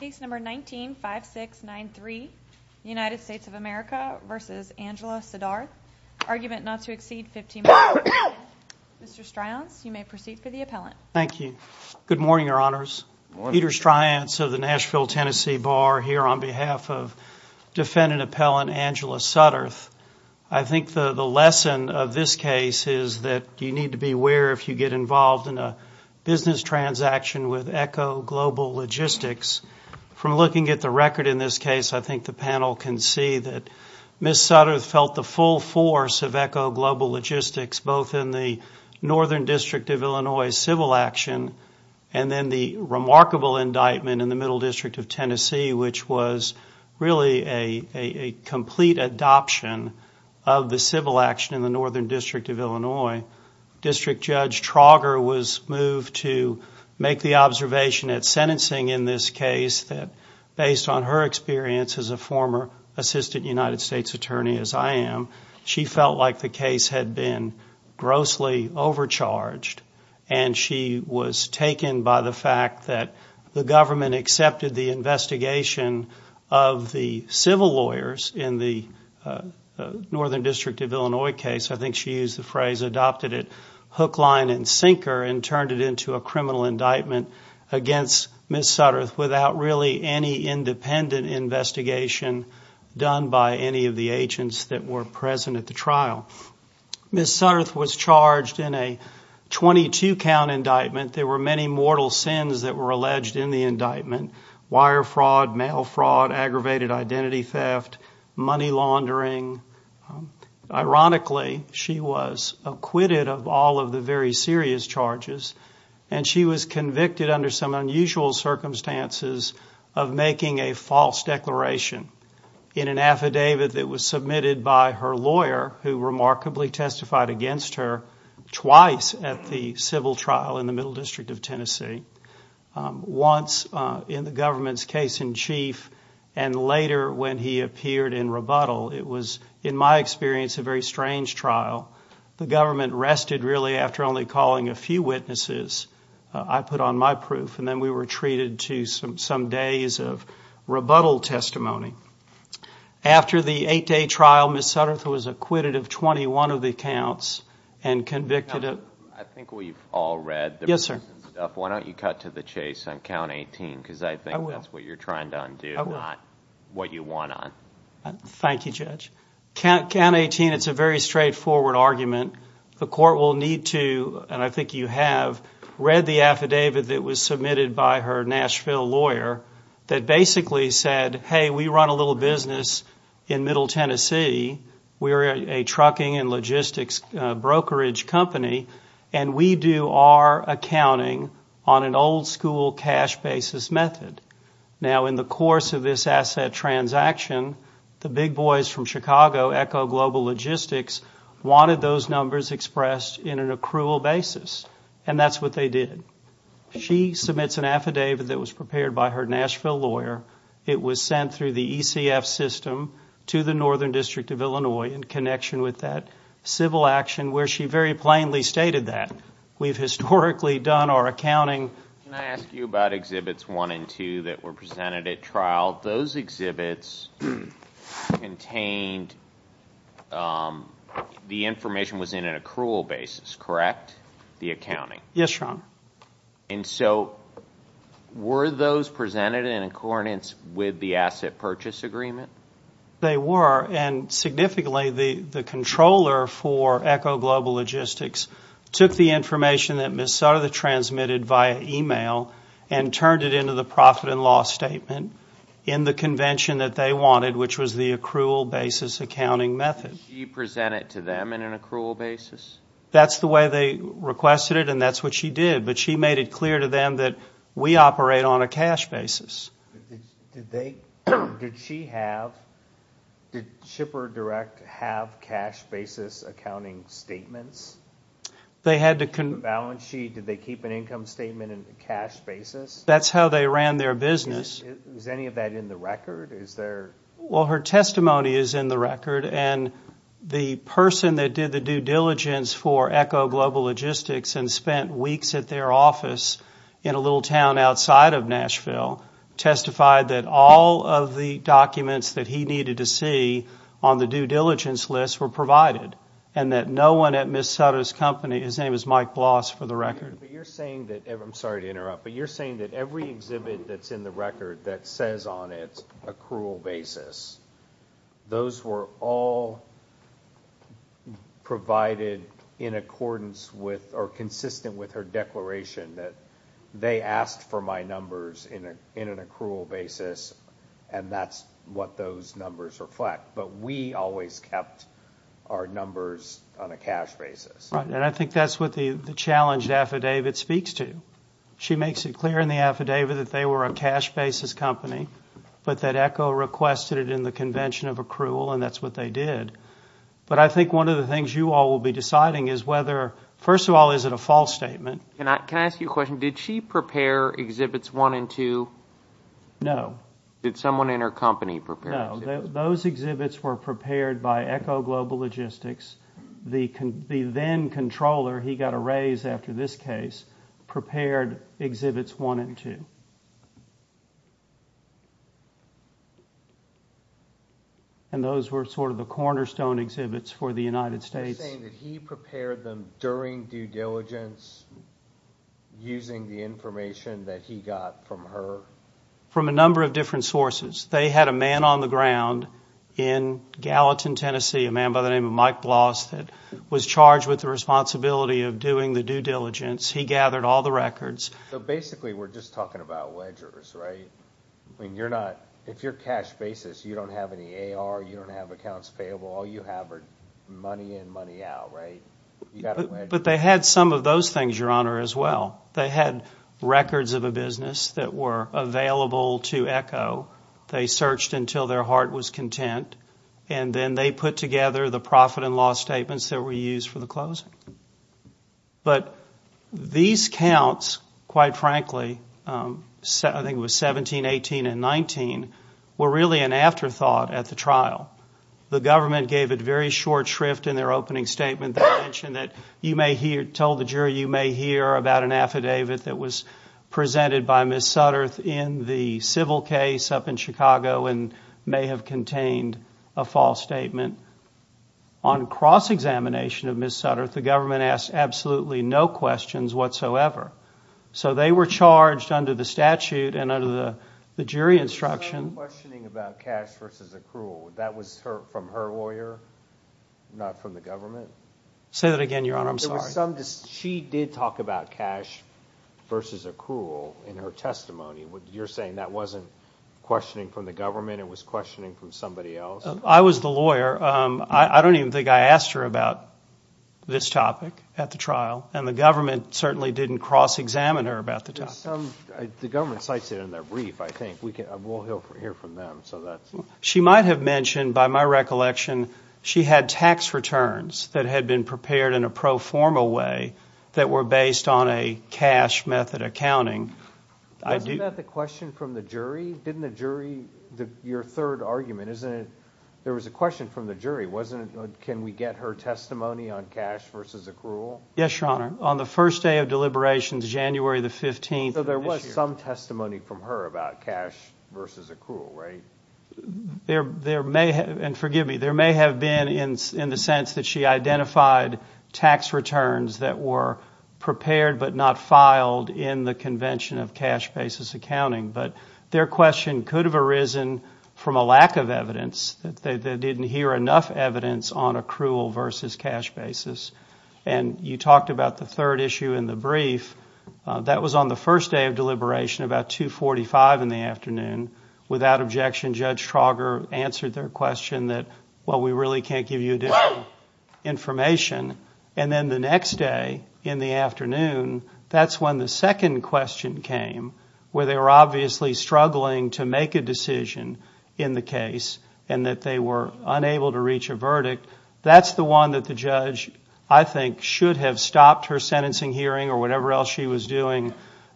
Case number 19-5693, United States of America v. Angela Suddarth. Argument not to exceed 15 minutes. Mr. Stryance, you may proceed for the appellant. Thank you. Good morning, Your Honors. Good morning. Peter Stryance of the Nashville, Tennessee Bar, here on behalf of defendant appellant Angela Suddarth. I think the lesson of this case is that you need to be aware, if you get involved in a business transaction with ECHO Global Logistics, from looking at the record in this case, I think the panel can see that Ms. Suddarth felt the full force of ECHO Global Logistics, both in the Northern District of Illinois civil action and then the remarkable indictment in the Middle District of Tennessee, which was really a complete adoption of the civil action in the Northern District of Illinois. District Judge Trauger was moved to make the observation at sentencing in this case that based on her experience as a former assistant United States attorney, as I am, she felt like the case had been grossly overcharged, and she was taken by the fact that the government accepted the investigation of the civil lawyers in the Northern District of Illinois case. I think she used the phrase adopted it hook, line, and sinker and turned it into a criminal indictment against Ms. Suddarth without really any independent investigation done by any of the agents that were present at the trial. Ms. Suddarth was charged in a 22-count indictment. There were many mortal sins that were alleged in the indictment, wire fraud, mail fraud, aggravated identity theft, money laundering. Ironically, she was acquitted of all of the very serious charges, and she was convicted under some unusual circumstances of making a false declaration in an affidavit that was submitted by her lawyer, who remarkably testified against her twice at the civil trial in the Middle District of Tennessee, once in the government's case in chief and later when he appeared in rebuttal. It was, in my experience, a very strange trial. The government rested really after only calling a few witnesses. I put on my proof, and then we were treated to some days of rebuttal testimony. After the eight-day trial, Ms. Suddarth was acquitted of 21 of the counts and convicted of – I think we've all read the – Yes, sir. Why don't you cut to the chase on count 18? Because I think that's what you're trying to undo, not what you won on. Thank you, Judge. Count 18, it's a very straightforward argument. The court will need to – and I think you have – read the affidavit that was submitted by her Nashville lawyer that basically said, hey, we run a little business in Middle Tennessee. We're a trucking and logistics brokerage company, and we do our accounting on an old-school cash basis method. Now, in the course of this asset transaction, the big boys from Chicago, Echo Global Logistics, wanted those numbers expressed in an accrual basis, and that's what they did. She submits an affidavit that was prepared by her Nashville lawyer. It was sent through the ECF system to the Northern District of Illinois in connection with that civil action where she very plainly stated that. We've historically done our accounting – Can I ask you about Exhibits 1 and 2 that were presented at trial? Those exhibits contained – the information was in an accrual basis, correct, the accounting? Yes, Sean. And so were those presented in accordance with the asset purchase agreement? They were, and significantly the controller for Echo Global Logistics took the information that Ms. Sutter had transmitted via e-mail and turned it into the profit and loss statement in the convention that they wanted, which was the accrual basis accounting method. Did she present it to them in an accrual basis? That's the way they requested it, and that's what she did. But she made it clear to them that we operate on a cash basis. Did they – did she have – did Shipper Direct have cash basis accounting statements? They had to – The balance sheet, did they keep an income statement in a cash basis? That's how they ran their business. Is any of that in the record? Is there – Well, her testimony is in the record, and the person that did the due diligence for Echo Global Logistics and spent weeks at their office in a little town outside of Nashville testified that all of the documents that he needed to see on the due diligence list were provided and that no one at Ms. Sutter's company – his name is Mike Bloss for the record. But you're saying that – I'm sorry to interrupt, but you're saying that every exhibit that's in the record that says on its accrual basis, those were all provided in accordance with or consistent with her declaration that they asked for my numbers in an accrual basis, and that's what those numbers reflect. But we always kept our numbers on a cash basis. Right, and I think that's what the challenged affidavit speaks to. She makes it clear in the affidavit that they were a cash basis company, but that Echo requested it in the convention of accrual, and that's what they did. But I think one of the things you all will be deciding is whether – first of all, is it a false statement? Can I ask you a question? Did she prepare Exhibits 1 and 2? No. Did someone in her company prepare them? No. Those exhibits were prepared by Echo Global Logistics. The then-controller, he got a raise after this case, prepared Exhibits 1 and 2. And those were sort of the cornerstone exhibits for the United States. Are you saying that he prepared them during due diligence using the information that he got from her? From a number of different sources. They had a man on the ground in Gallatin, Tennessee, a man by the name of Mike Bloss, that was charged with the responsibility of doing the due diligence. He gathered all the records. So basically we're just talking about ledgers, right? I mean, you're not – if you're cash basis, you don't have any AR, you don't have accounts payable. All you have are money in, money out, right? But they had some of those things, Your Honor, as well. They had records of a business that were available to Echo. They searched until their heart was content, and then they put together the profit and loss statements that were used for the closing. But these counts, quite frankly, I think it was 17, 18, and 19, were really an afterthought at the trial. The government gave it very short shrift in their opening statement. They mentioned that you may hear – told the jury you may hear about an affidavit that was presented by Ms. Sutterth in the civil case up in Chicago and may have contained a false statement. On cross-examination of Ms. Sutterth, the government asked absolutely no questions whatsoever. So they were charged under the statute and under the jury instruction. The questioning about cash versus accrual, that was from her lawyer, not from the government? Say that again, Your Honor, I'm sorry. She did talk about cash versus accrual in her testimony. You're saying that wasn't questioning from the government, it was questioning from somebody else? I was the lawyer. I don't even think I asked her about this topic at the trial, and the government certainly didn't cross-examine her about the topic. The government cites it in their brief, I think. We'll hear from them. She might have mentioned, by my recollection, she had tax returns that had been prepared in a pro forma way that were based on a cash method accounting. Wasn't that the question from the jury? Didn't the jury, your third argument, there was a question from the jury. Can we get her testimony on cash versus accrual? Yes, Your Honor. On the first day of deliberations, January the 15th of this year. There was some testimony from her about cash versus accrual, right? There may have been, and forgive me, there may have been in the sense that she identified tax returns that were prepared but not filed in the convention of cash basis accounting. But their question could have arisen from a lack of evidence. They didn't hear enough evidence on accrual versus cash basis. And you talked about the third issue in the brief. That was on the first day of deliberation, about 2.45 in the afternoon. Without objection, Judge Trauger answered their question that, well, we really can't give you enough information. And then the next day in the afternoon, that's when the second question came, where they were obviously struggling to make a decision in the case and that they were unable to reach a verdict. That's the one that the judge, I think, should have stopped her sentencing hearing or whatever else she was doing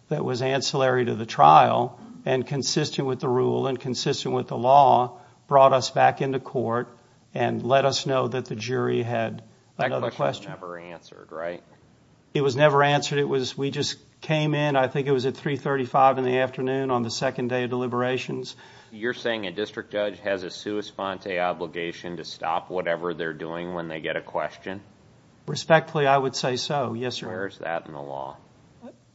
that was ancillary to the trial and consistent with the rule and consistent with the law, brought us back into court and let us know that the jury had another question. That question was never answered, right? It was never answered. We just came in, I think it was at 3.35 in the afternoon, on the second day of deliberations. You're saying a district judge has a sua sponte obligation to stop whatever they're doing when they get a question? Respectfully, I would say so, yes, sir. Where is that in the law?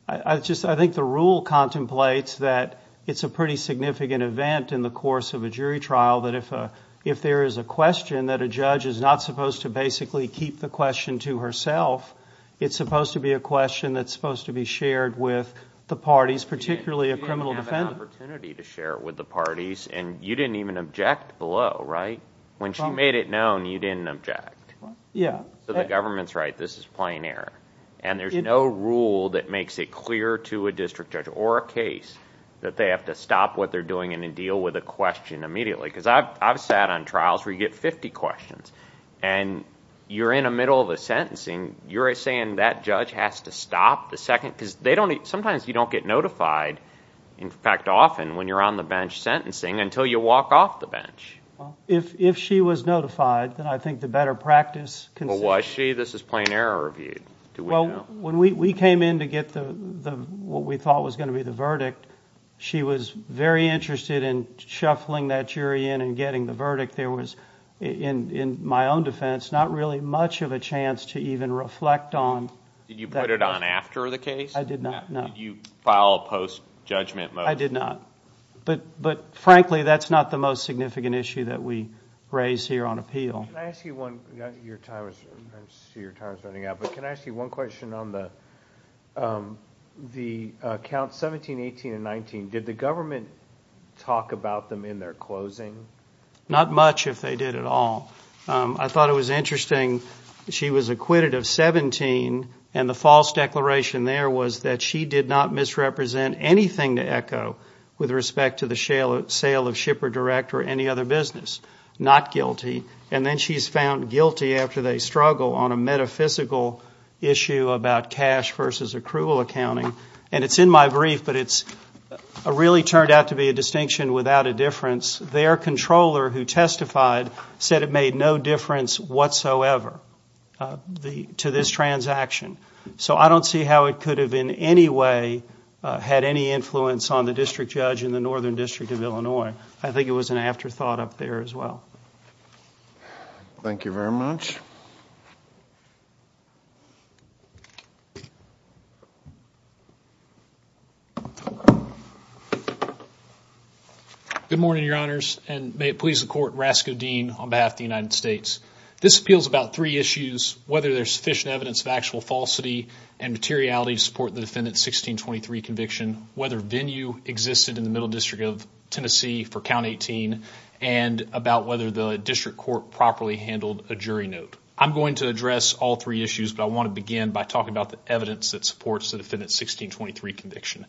I think the rule contemplates that it's a pretty significant event in the course of a jury trial that if there is a question that a judge is not supposed to basically keep the question to herself, it's supposed to be a question that's supposed to be shared with the parties, particularly a criminal defendant. She didn't have an opportunity to share it with the parties and you didn't even object below, right? When she made it known, you didn't object. So the government's right, this is plain error. And there's no rule that makes it clear to a district judge or a case that they have to stop what they're doing and deal with a question immediately. Because I've sat on trials where you get 50 questions and you're in the middle of a sentencing, you're saying that judge has to stop the second? Because sometimes you don't get notified, in fact often, when you're on the bench sentencing until you walk off the bench. If she was notified, then I think the better practice... Was she? This is plain error review. Well, when we came in to get what we thought was going to be the verdict, she was very interested in shuffling that jury in and getting the verdict. There was, in my own defense, not really much of a chance to even reflect on... Did you put it on after the case? I did not, no. Did you file a post-judgment motion? I did not. But, frankly, that's not the most significant issue that we raise here on appeal. Can I ask you one... I see your time is running out, but can I ask you one question on the Counts 17, 18, and 19? Did the government talk about them in their closing? Not much, if they did at all. I thought it was interesting. She was acquitted of 17, and the false declaration there was that she did not misrepresent anything to ECHO with respect to the sale of Shipper Direct or any other business. Not guilty. And then she's found guilty after they struggle on a metaphysical issue about cash versus accrual accounting. And it's in my brief, but it really turned out to be a distinction without a difference. Their controller who testified said it made no difference whatsoever to this transaction. So I don't see how it could have in any way had any influence on the district judge in the Northern District of Illinois. I think it was an afterthought up there as well. Thank you very much. Good morning, Your Honors, and may it please the Court, Rasko Dean on behalf of the United States. This appeals about three issues, whether there's sufficient evidence of actual falsity and materiality to support the defendant's 1623 conviction, whether venue existed in the Middle District of Tennessee for Count 18, and about whether the district court properly handled a jury note. I'm going to address all three issues, but I want to begin by talking about the evidence that supports the defendant's 1623 conviction.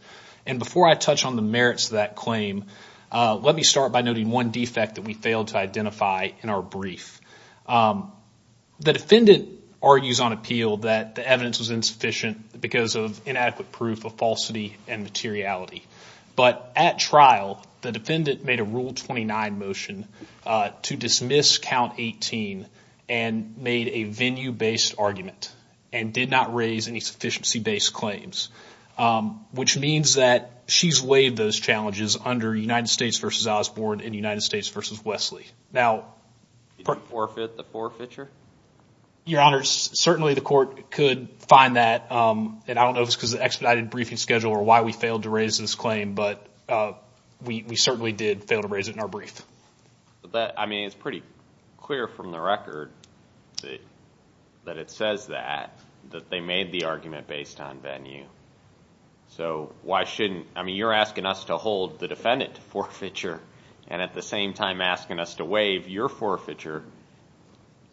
And before I touch on the merits of that claim, let me start by noting one defect that we failed to identify in our brief. The defendant argues on appeal that the evidence was insufficient because of inadequate proof of falsity and materiality. But at trial, the defendant made a Rule 29 motion to dismiss Count 18 and made a venue-based argument and did not raise any sufficiency-based claims, which means that she's waived those challenges under United States v. Osborne and United States v. Wesley. Now- Did you forfeit the forfeiture? Your Honors, certainly the Court could find that, and I don't know if it's because of the expedited briefing schedule or why we failed to raise this claim, but we certainly did fail to raise it in our brief. But that, I mean, it's pretty clear from the record that it says that, that they made the argument based on venue. So why shouldn't, I mean, you're asking us to hold the defendant to forfeiture and at the same time asking us to waive your forfeiture.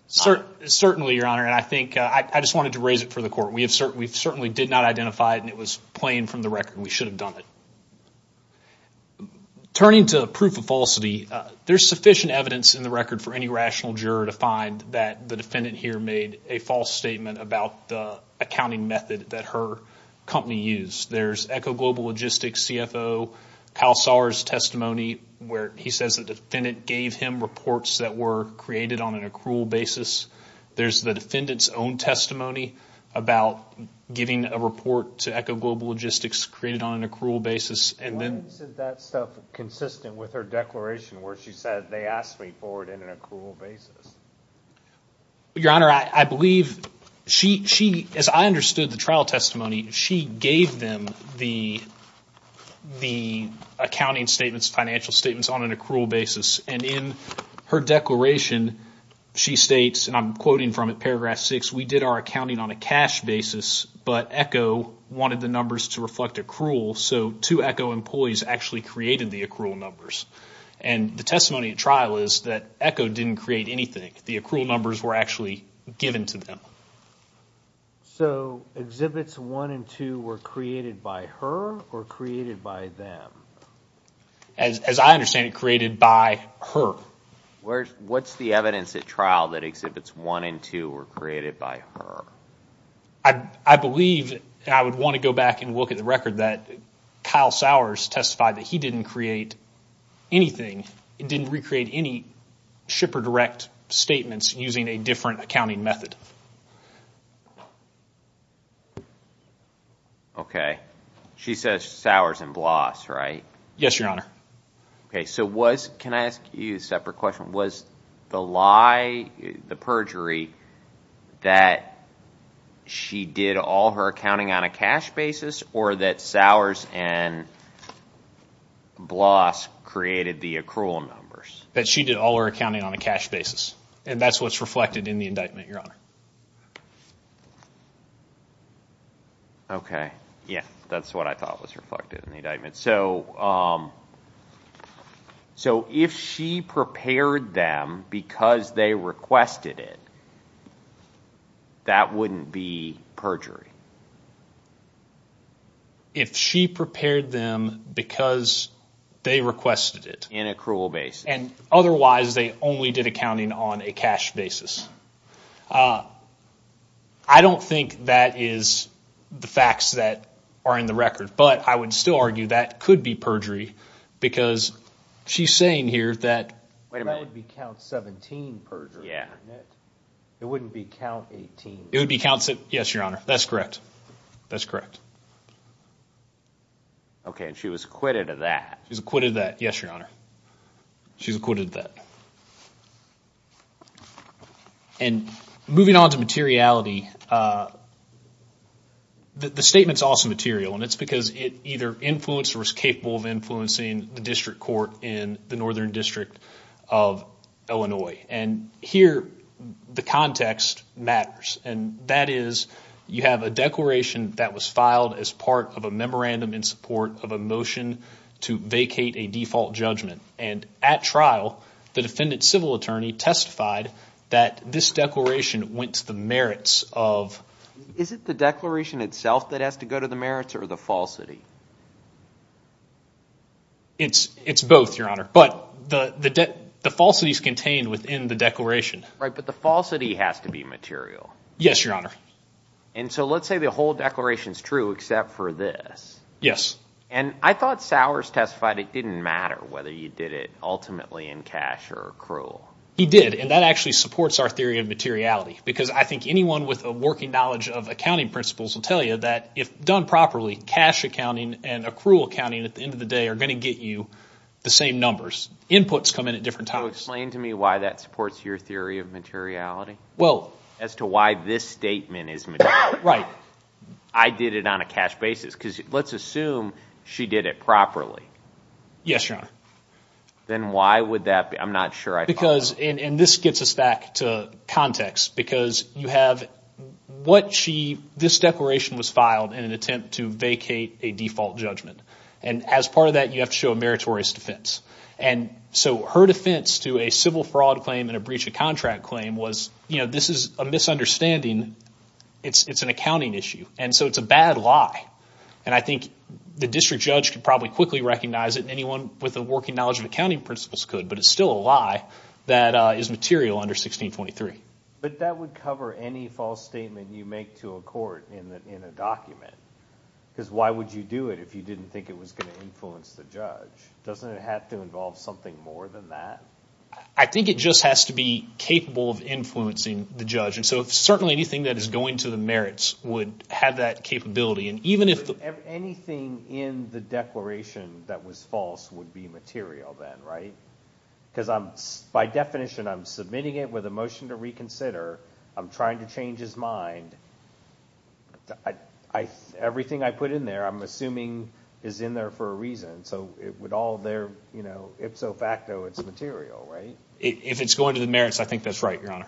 Certainly, Your Honor, and I think I just wanted to raise it for the Court. We certainly did not identify it, and it was plain from the record we should have done it. Turning to proof of falsity, there's sufficient evidence in the record for any rational juror to find that the defendant here made a false statement about the accounting method that her company used. There's ECHO Global Logistics CFO Kyle Sauer's testimony where he says the defendant gave him reports that were created on an accrual basis. There's the defendant's own testimony about giving a report to ECHO Global Logistics created on an accrual basis, and then- When is that stuff consistent with her declaration where she said they asked me for it in an accrual basis? Your Honor, I believe she, as I understood the trial testimony, she gave them the accounting statements, financial statements on an accrual basis, and in her declaration she states, and I'm quoting from it, paragraph 6, we did our accounting on a cash basis, but ECHO wanted the numbers to reflect accrual, so two ECHO employees actually created the accrual numbers. And the testimony at trial is that ECHO didn't create anything. The accrual numbers were actually given to them. So exhibits 1 and 2 were created by her or created by them? As I understand it, created by her. What's the evidence at trial that exhibits 1 and 2 were created by her? I believe, and I would want to go back and look at the record, that Kyle Sowers testified that he didn't create anything, didn't recreate any SHIP or DIRECT statements using a different accounting method. Okay. She says Sowers and Bloss, right? Yes, Your Honor. Okay, so can I ask you a separate question? Was the lie, the perjury, that she did all her accounting on a cash basis or that Sowers and Bloss created the accrual numbers? That she did all her accounting on a cash basis, and that's what's reflected in the indictment, Your Honor. Okay, yeah, that's what I thought was reflected in the indictment. So if she prepared them because they requested it, that wouldn't be perjury? If she prepared them because they requested it. In accrual basis. And otherwise they only did accounting on a cash basis. I don't think that is the facts that are in the record, but I would still argue that could be perjury because she's saying here that... Wait a minute. That would be count 17 perjury, wouldn't it? Yeah. It wouldn't be count 18. It would be count 17. Yes, Your Honor. That's correct. That's correct. Okay, and she was acquitted of that. She was acquitted of that. Yes, Your Honor. She was acquitted of that. And moving on to materiality, the statement's also material, and it's because it either influenced or was capable of influencing the district court in the Northern District of Illinois. And here the context matters, and that is you have a declaration that was filed as part of a memorandum in support of a motion to vacate a default judgment. And at trial, the defendant's civil attorney testified that this declaration went to the merits of... Is it the declaration itself that has to go to the merits or the falsity? It's both, Your Honor, but the falsity's contained within the declaration. Right, but the falsity has to be material. Yes, Your Honor. And so let's say the whole declaration's true except for this. Yes. And I thought Sowers testified it didn't matter whether you did it ultimately in cash or accrual. He did, and that actually supports our theory of materiality because I think anyone with a working knowledge of accounting principles will tell you that if done properly, cash accounting and accrual accounting at the end of the day are going to get you the same numbers. Inputs come in at different times. So explain to me why that supports your theory of materiality. Well... As to why this statement is material. Right. I did it on a cash basis because let's assume she did it properly. Yes, Your Honor. Then why would that be? I'm not sure I thought... Because, and this gets us back to context, because you have what she, this declaration was filed in an attempt to vacate a default judgment. And as part of that, you have to show a meritorious defense. And so her defense to a civil fraud claim and a breach of contract claim was, you know, this is a misunderstanding. It's an accounting issue, and so it's a bad lie. And I think the district judge could probably quickly recognize it and anyone with a working knowledge of accounting principles could, but it's still a lie that is material under 1623. But that would cover any false statement you make to a court in a document. Because why would you do it if you didn't think it was going to influence the judge? Doesn't it have to involve something more than that? I think it just has to be capable of influencing the judge. And so certainly anything that is going to the merits would have that capability. Anything in the declaration that was false would be material then, right? Because by definition I'm submitting it with a motion to reconsider. I'm trying to change his mind. Everything I put in there I'm assuming is in there for a reason. So it would all there, you know, ipso facto, it's material, right? If it's going to the merits, I think that's right, Your Honor.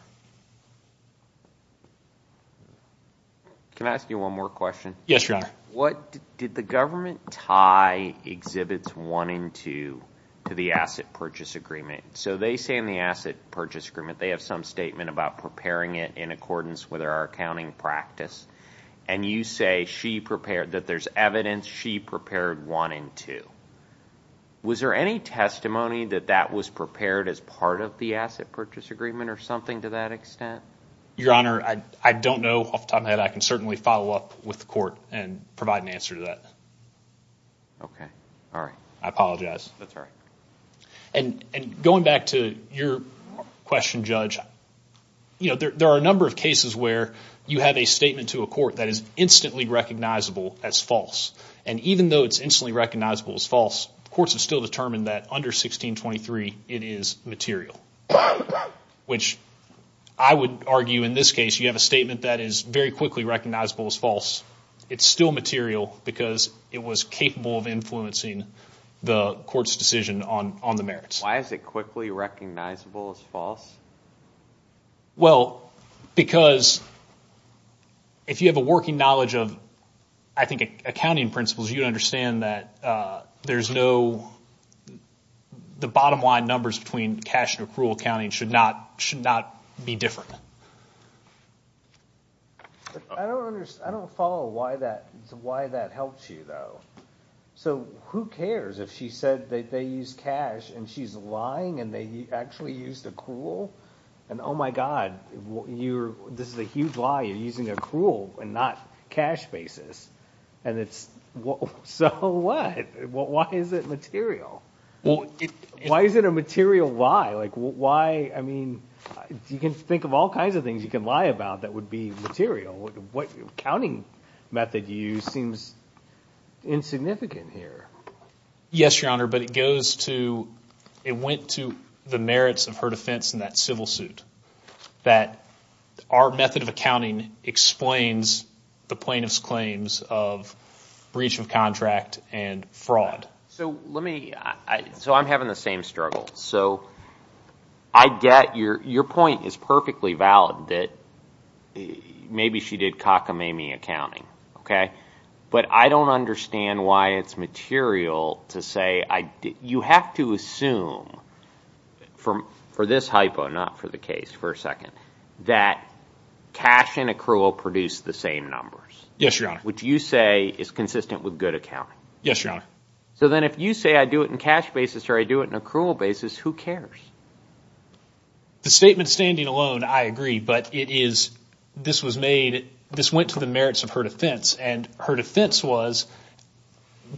Can I ask you one more question? Yes, Your Honor. Did the government tie Exhibits 1 and 2 to the Asset Purchase Agreement? So they say in the Asset Purchase Agreement they have some statement about preparing it in accordance with our accounting practice, and you say that there's evidence she prepared 1 and 2. Was there any testimony that that was prepared as part of the Asset Purchase Agreement or something to that extent? Your Honor, I don't know off the top of my head. I can certainly follow up with the court and provide an answer to that. Okay. All right. I apologize. That's all right. And going back to your question, Judge, you know, there are a number of cases where you have a statement to a court that is instantly recognizable as false. And even though it's instantly recognizable as false, courts have still determined that under 1623 it is material, which I would argue in this case you have a statement that is very quickly recognizable as false. It's still material because it was capable of influencing the court's decision on the merits. Why is it quickly recognizable as false? Well, because if you have a working knowledge of, I think, accounting principles, you'd understand that there's no the bottom line numbers between cash and accrual accounting should not be different. I don't follow why that helps you, though. So who cares if she said that they use cash and she's lying and they actually used accrual? And, oh, my God, this is a huge lie. You're using accrual and not cash basis. And it's so what? Why is it material? Why is it a material lie? Like why, I mean, you can think of all kinds of things you can lie about that would be material. What accounting method you use seems insignificant here. Yes, Your Honor, but it goes to, it went to the merits of her defense in that civil suit that our method of accounting explains the plaintiff's claims of breach of contract and fraud. So let me, so I'm having the same struggle. So I get your point is perfectly valid that maybe she did cockamamie accounting. OK, but I don't understand why it's material to say I did. You have to assume for this hypo, not for the case, for a second, that cash and accrual produce the same numbers. Yes, Your Honor. Which you say is consistent with good accounting. Yes, Your Honor. So then if you say I do it in cash basis or I do it in accrual basis, who cares? The statement standing alone, I agree, but it is, this was made, this went to the merits of her defense. And her defense was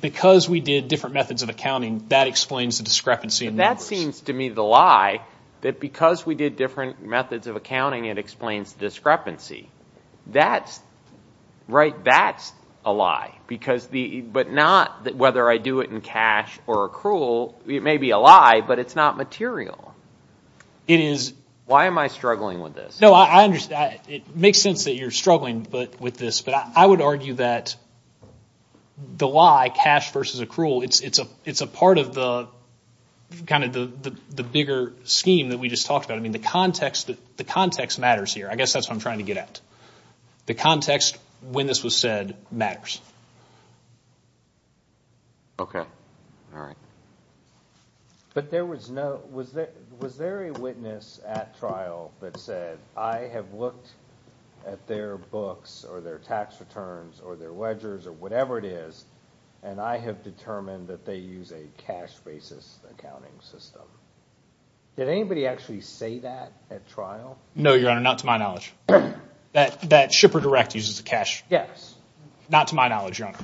because we did different methods of accounting, that explains the discrepancy in numbers. But that seems to me the lie, that because we did different methods of accounting, it explains the discrepancy. That's, right, that's a lie. Because the, but not whether I do it in cash or accrual, it may be a lie, but it's not material. It is. Why am I struggling with this? No, I understand. It makes sense that you're struggling with this, but I would argue that the lie, cash versus accrual, it's a part of the kind of the bigger scheme that we just talked about. I mean, the context matters here. I guess that's what I'm trying to get at. The context when this was said matters. Okay. All right. But there was no, was there a witness at trial that said, I have looked at their books or their tax returns or their ledgers or whatever it is, and I have determined that they use a cash basis accounting system. Did anybody actually say that at trial? No, Your Honor, not to my knowledge. That Shipper Direct uses cash. Yes. Not to my knowledge, Your Honor.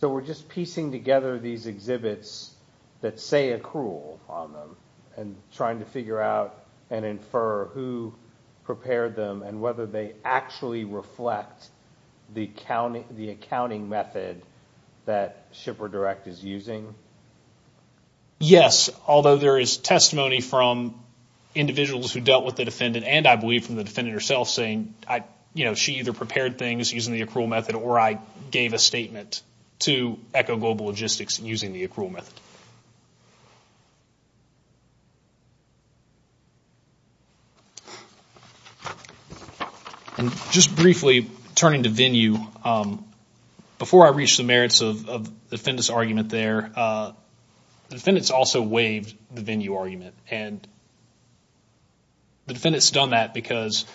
So we're just piecing together these exhibits that say accrual on them and trying to figure out and infer who prepared them and whether they actually reflect the accounting method that Shipper Direct is using? Yes, although there is testimony from individuals who dealt with the defendant and, I believe, from the defendant herself saying, she either prepared things using the accrual method or I gave a statement to ECHO Global Logistics using the accrual method. Just briefly, turning to venue, before I reach the merits of the defendant's argument there, the defendant's also waived the venue argument. And the defendant's done that because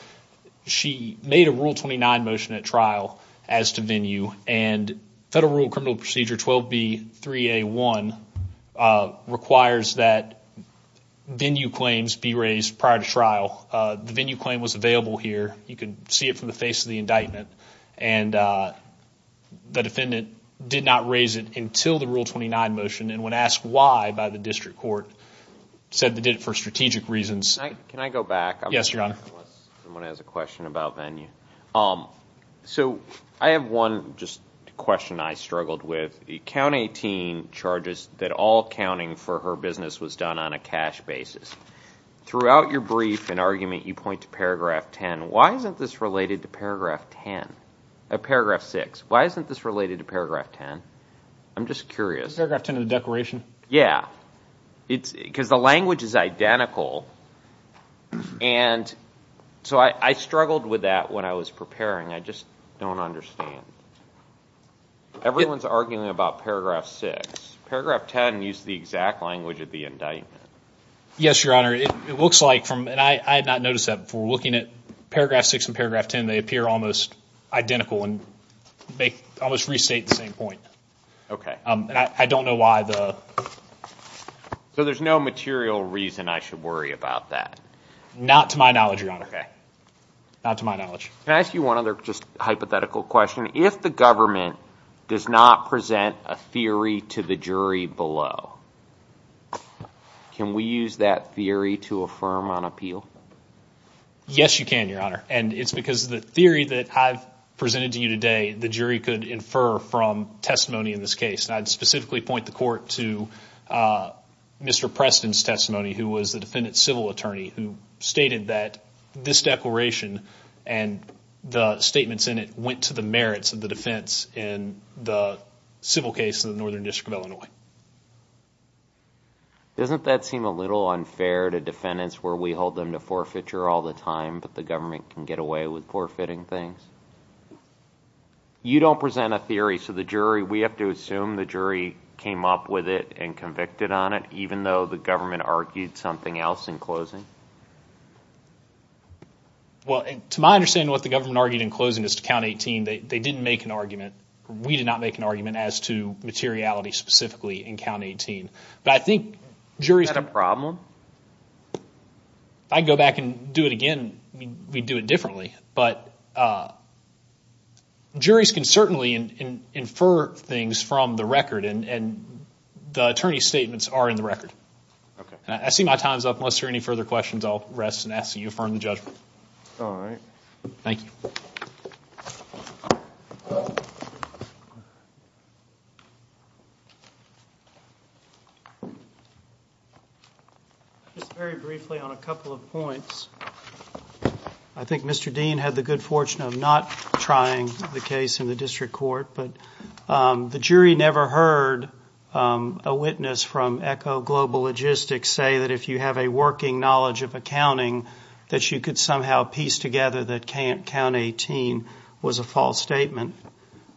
she made a Rule 29 motion at trial as to venue, and Federal Rule of Criminal Procedure 12B3A1 requires that venue claims be raised prior to trial. The venue claim was available here. You can see it from the face of the indictment. And the defendant did not raise it until the Rule 29 motion, and when asked why by the district court, said they did it for strategic reasons. Can I go back? Yes, Your Honor. Unless someone has a question about venue. So I have one question I struggled with. The Count 18 charges that all accounting for her business was done on a cash basis. Throughout your brief and argument, you point to paragraph 10. Why isn't this related to paragraph 6? Why isn't this related to paragraph 10? I'm just curious. Paragraph 10 of the declaration? Yeah. Because the language is identical. And so I struggled with that when I was preparing. I just don't understand. Everyone's arguing about paragraph 6. Paragraph 10 used the exact language of the indictment. Yes, Your Honor. It looks like from, and I had not noticed that before, looking at paragraph 6 and paragraph 10, they appear almost identical and they almost restate the same point. Okay. And I don't know why the... So there's no material reason I should worry about that? Not to my knowledge, Your Honor. Okay. Not to my knowledge. Can I ask you one other just hypothetical question? If the government does not present a theory to the jury below, can we use that theory to affirm on appeal? Yes, you can, Your Honor. And it's because the theory that I've presented to you today, the jury could infer from testimony in this case. And I'd specifically point the court to Mr. Preston's testimony, who was the defendant's civil attorney, who stated that this declaration and the statements in it went to the merits of the defense in the civil case in the Northern District of Illinois. Doesn't that seem a little unfair to defendants where we hold them to forfeiture all the time but the government can get away with forfeiting things? You don't present a theory, so the jury, we have to assume the jury came up with it and convicted on it, even though the government argued something else in closing? Well, to my understanding, what the government argued in closing is to Count 18. They didn't make an argument. We did not make an argument as to materiality specifically in Count 18. But I think juries... Is that a problem? If I could go back and do it again, we'd do it differently. But juries can certainly infer things from the record, and the attorney's statements are in the record. I see my time is up. Unless there are any further questions, I'll rest and ask that you affirm the judgment. All right. Thank you. Just very briefly on a couple of points. I think Mr. Dean had the good fortune of not trying the case in the district court, but the jury never heard a witness from Echo Global Logistics say that if you have a working knowledge of accounting, that you could somehow piece together that Count 18 was a false statement.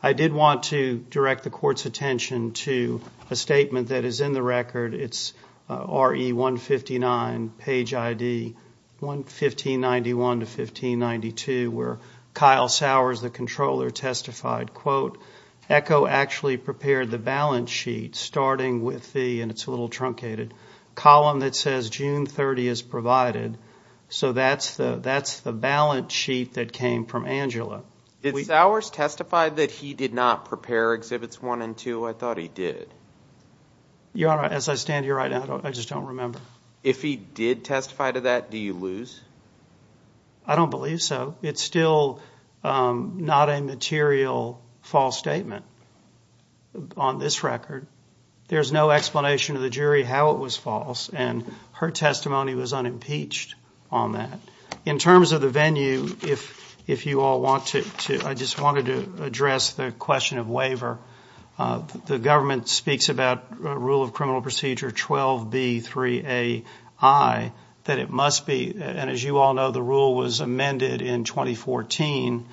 I did want to direct the court's attention to a statement that is in the record. It's RE 159, page ID 1591 to 1592, where Kyle Sowers, the controller, testified, quote, Echo actually prepared the balance sheet starting with the, and it's a little truncated, column that says June 30 is provided. So that's the balance sheet that came from Angela. Did Sowers testify that he did not prepare Exhibits 1 and 2? I thought he did. Your Honor, as I stand here right now, I just don't remember. If he did testify to that, do you lose? I don't believe so. It's still not a material false statement on this record. There's no explanation to the jury how it was false, and her testimony was unimpeached on that. In terms of the venue, if you all want to, I just wanted to address the question of waiver. The government speaks about Rule of Criminal Procedure 12B3AI, that it must be, and as you all know, the rule was amended in 2014,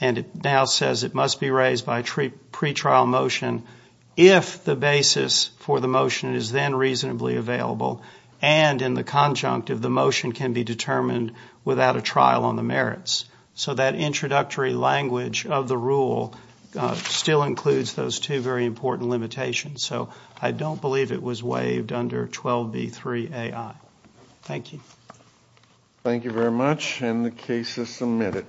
and it now says it must be raised by pretrial motion if the basis for the motion is then reasonably available and in the conjunctive the motion can be determined without a trial on the merits. So that introductory language of the rule still includes those two very important limitations. So I don't believe it was waived under 12B3AI. Thank you. Thank you very much, and the case is submitted.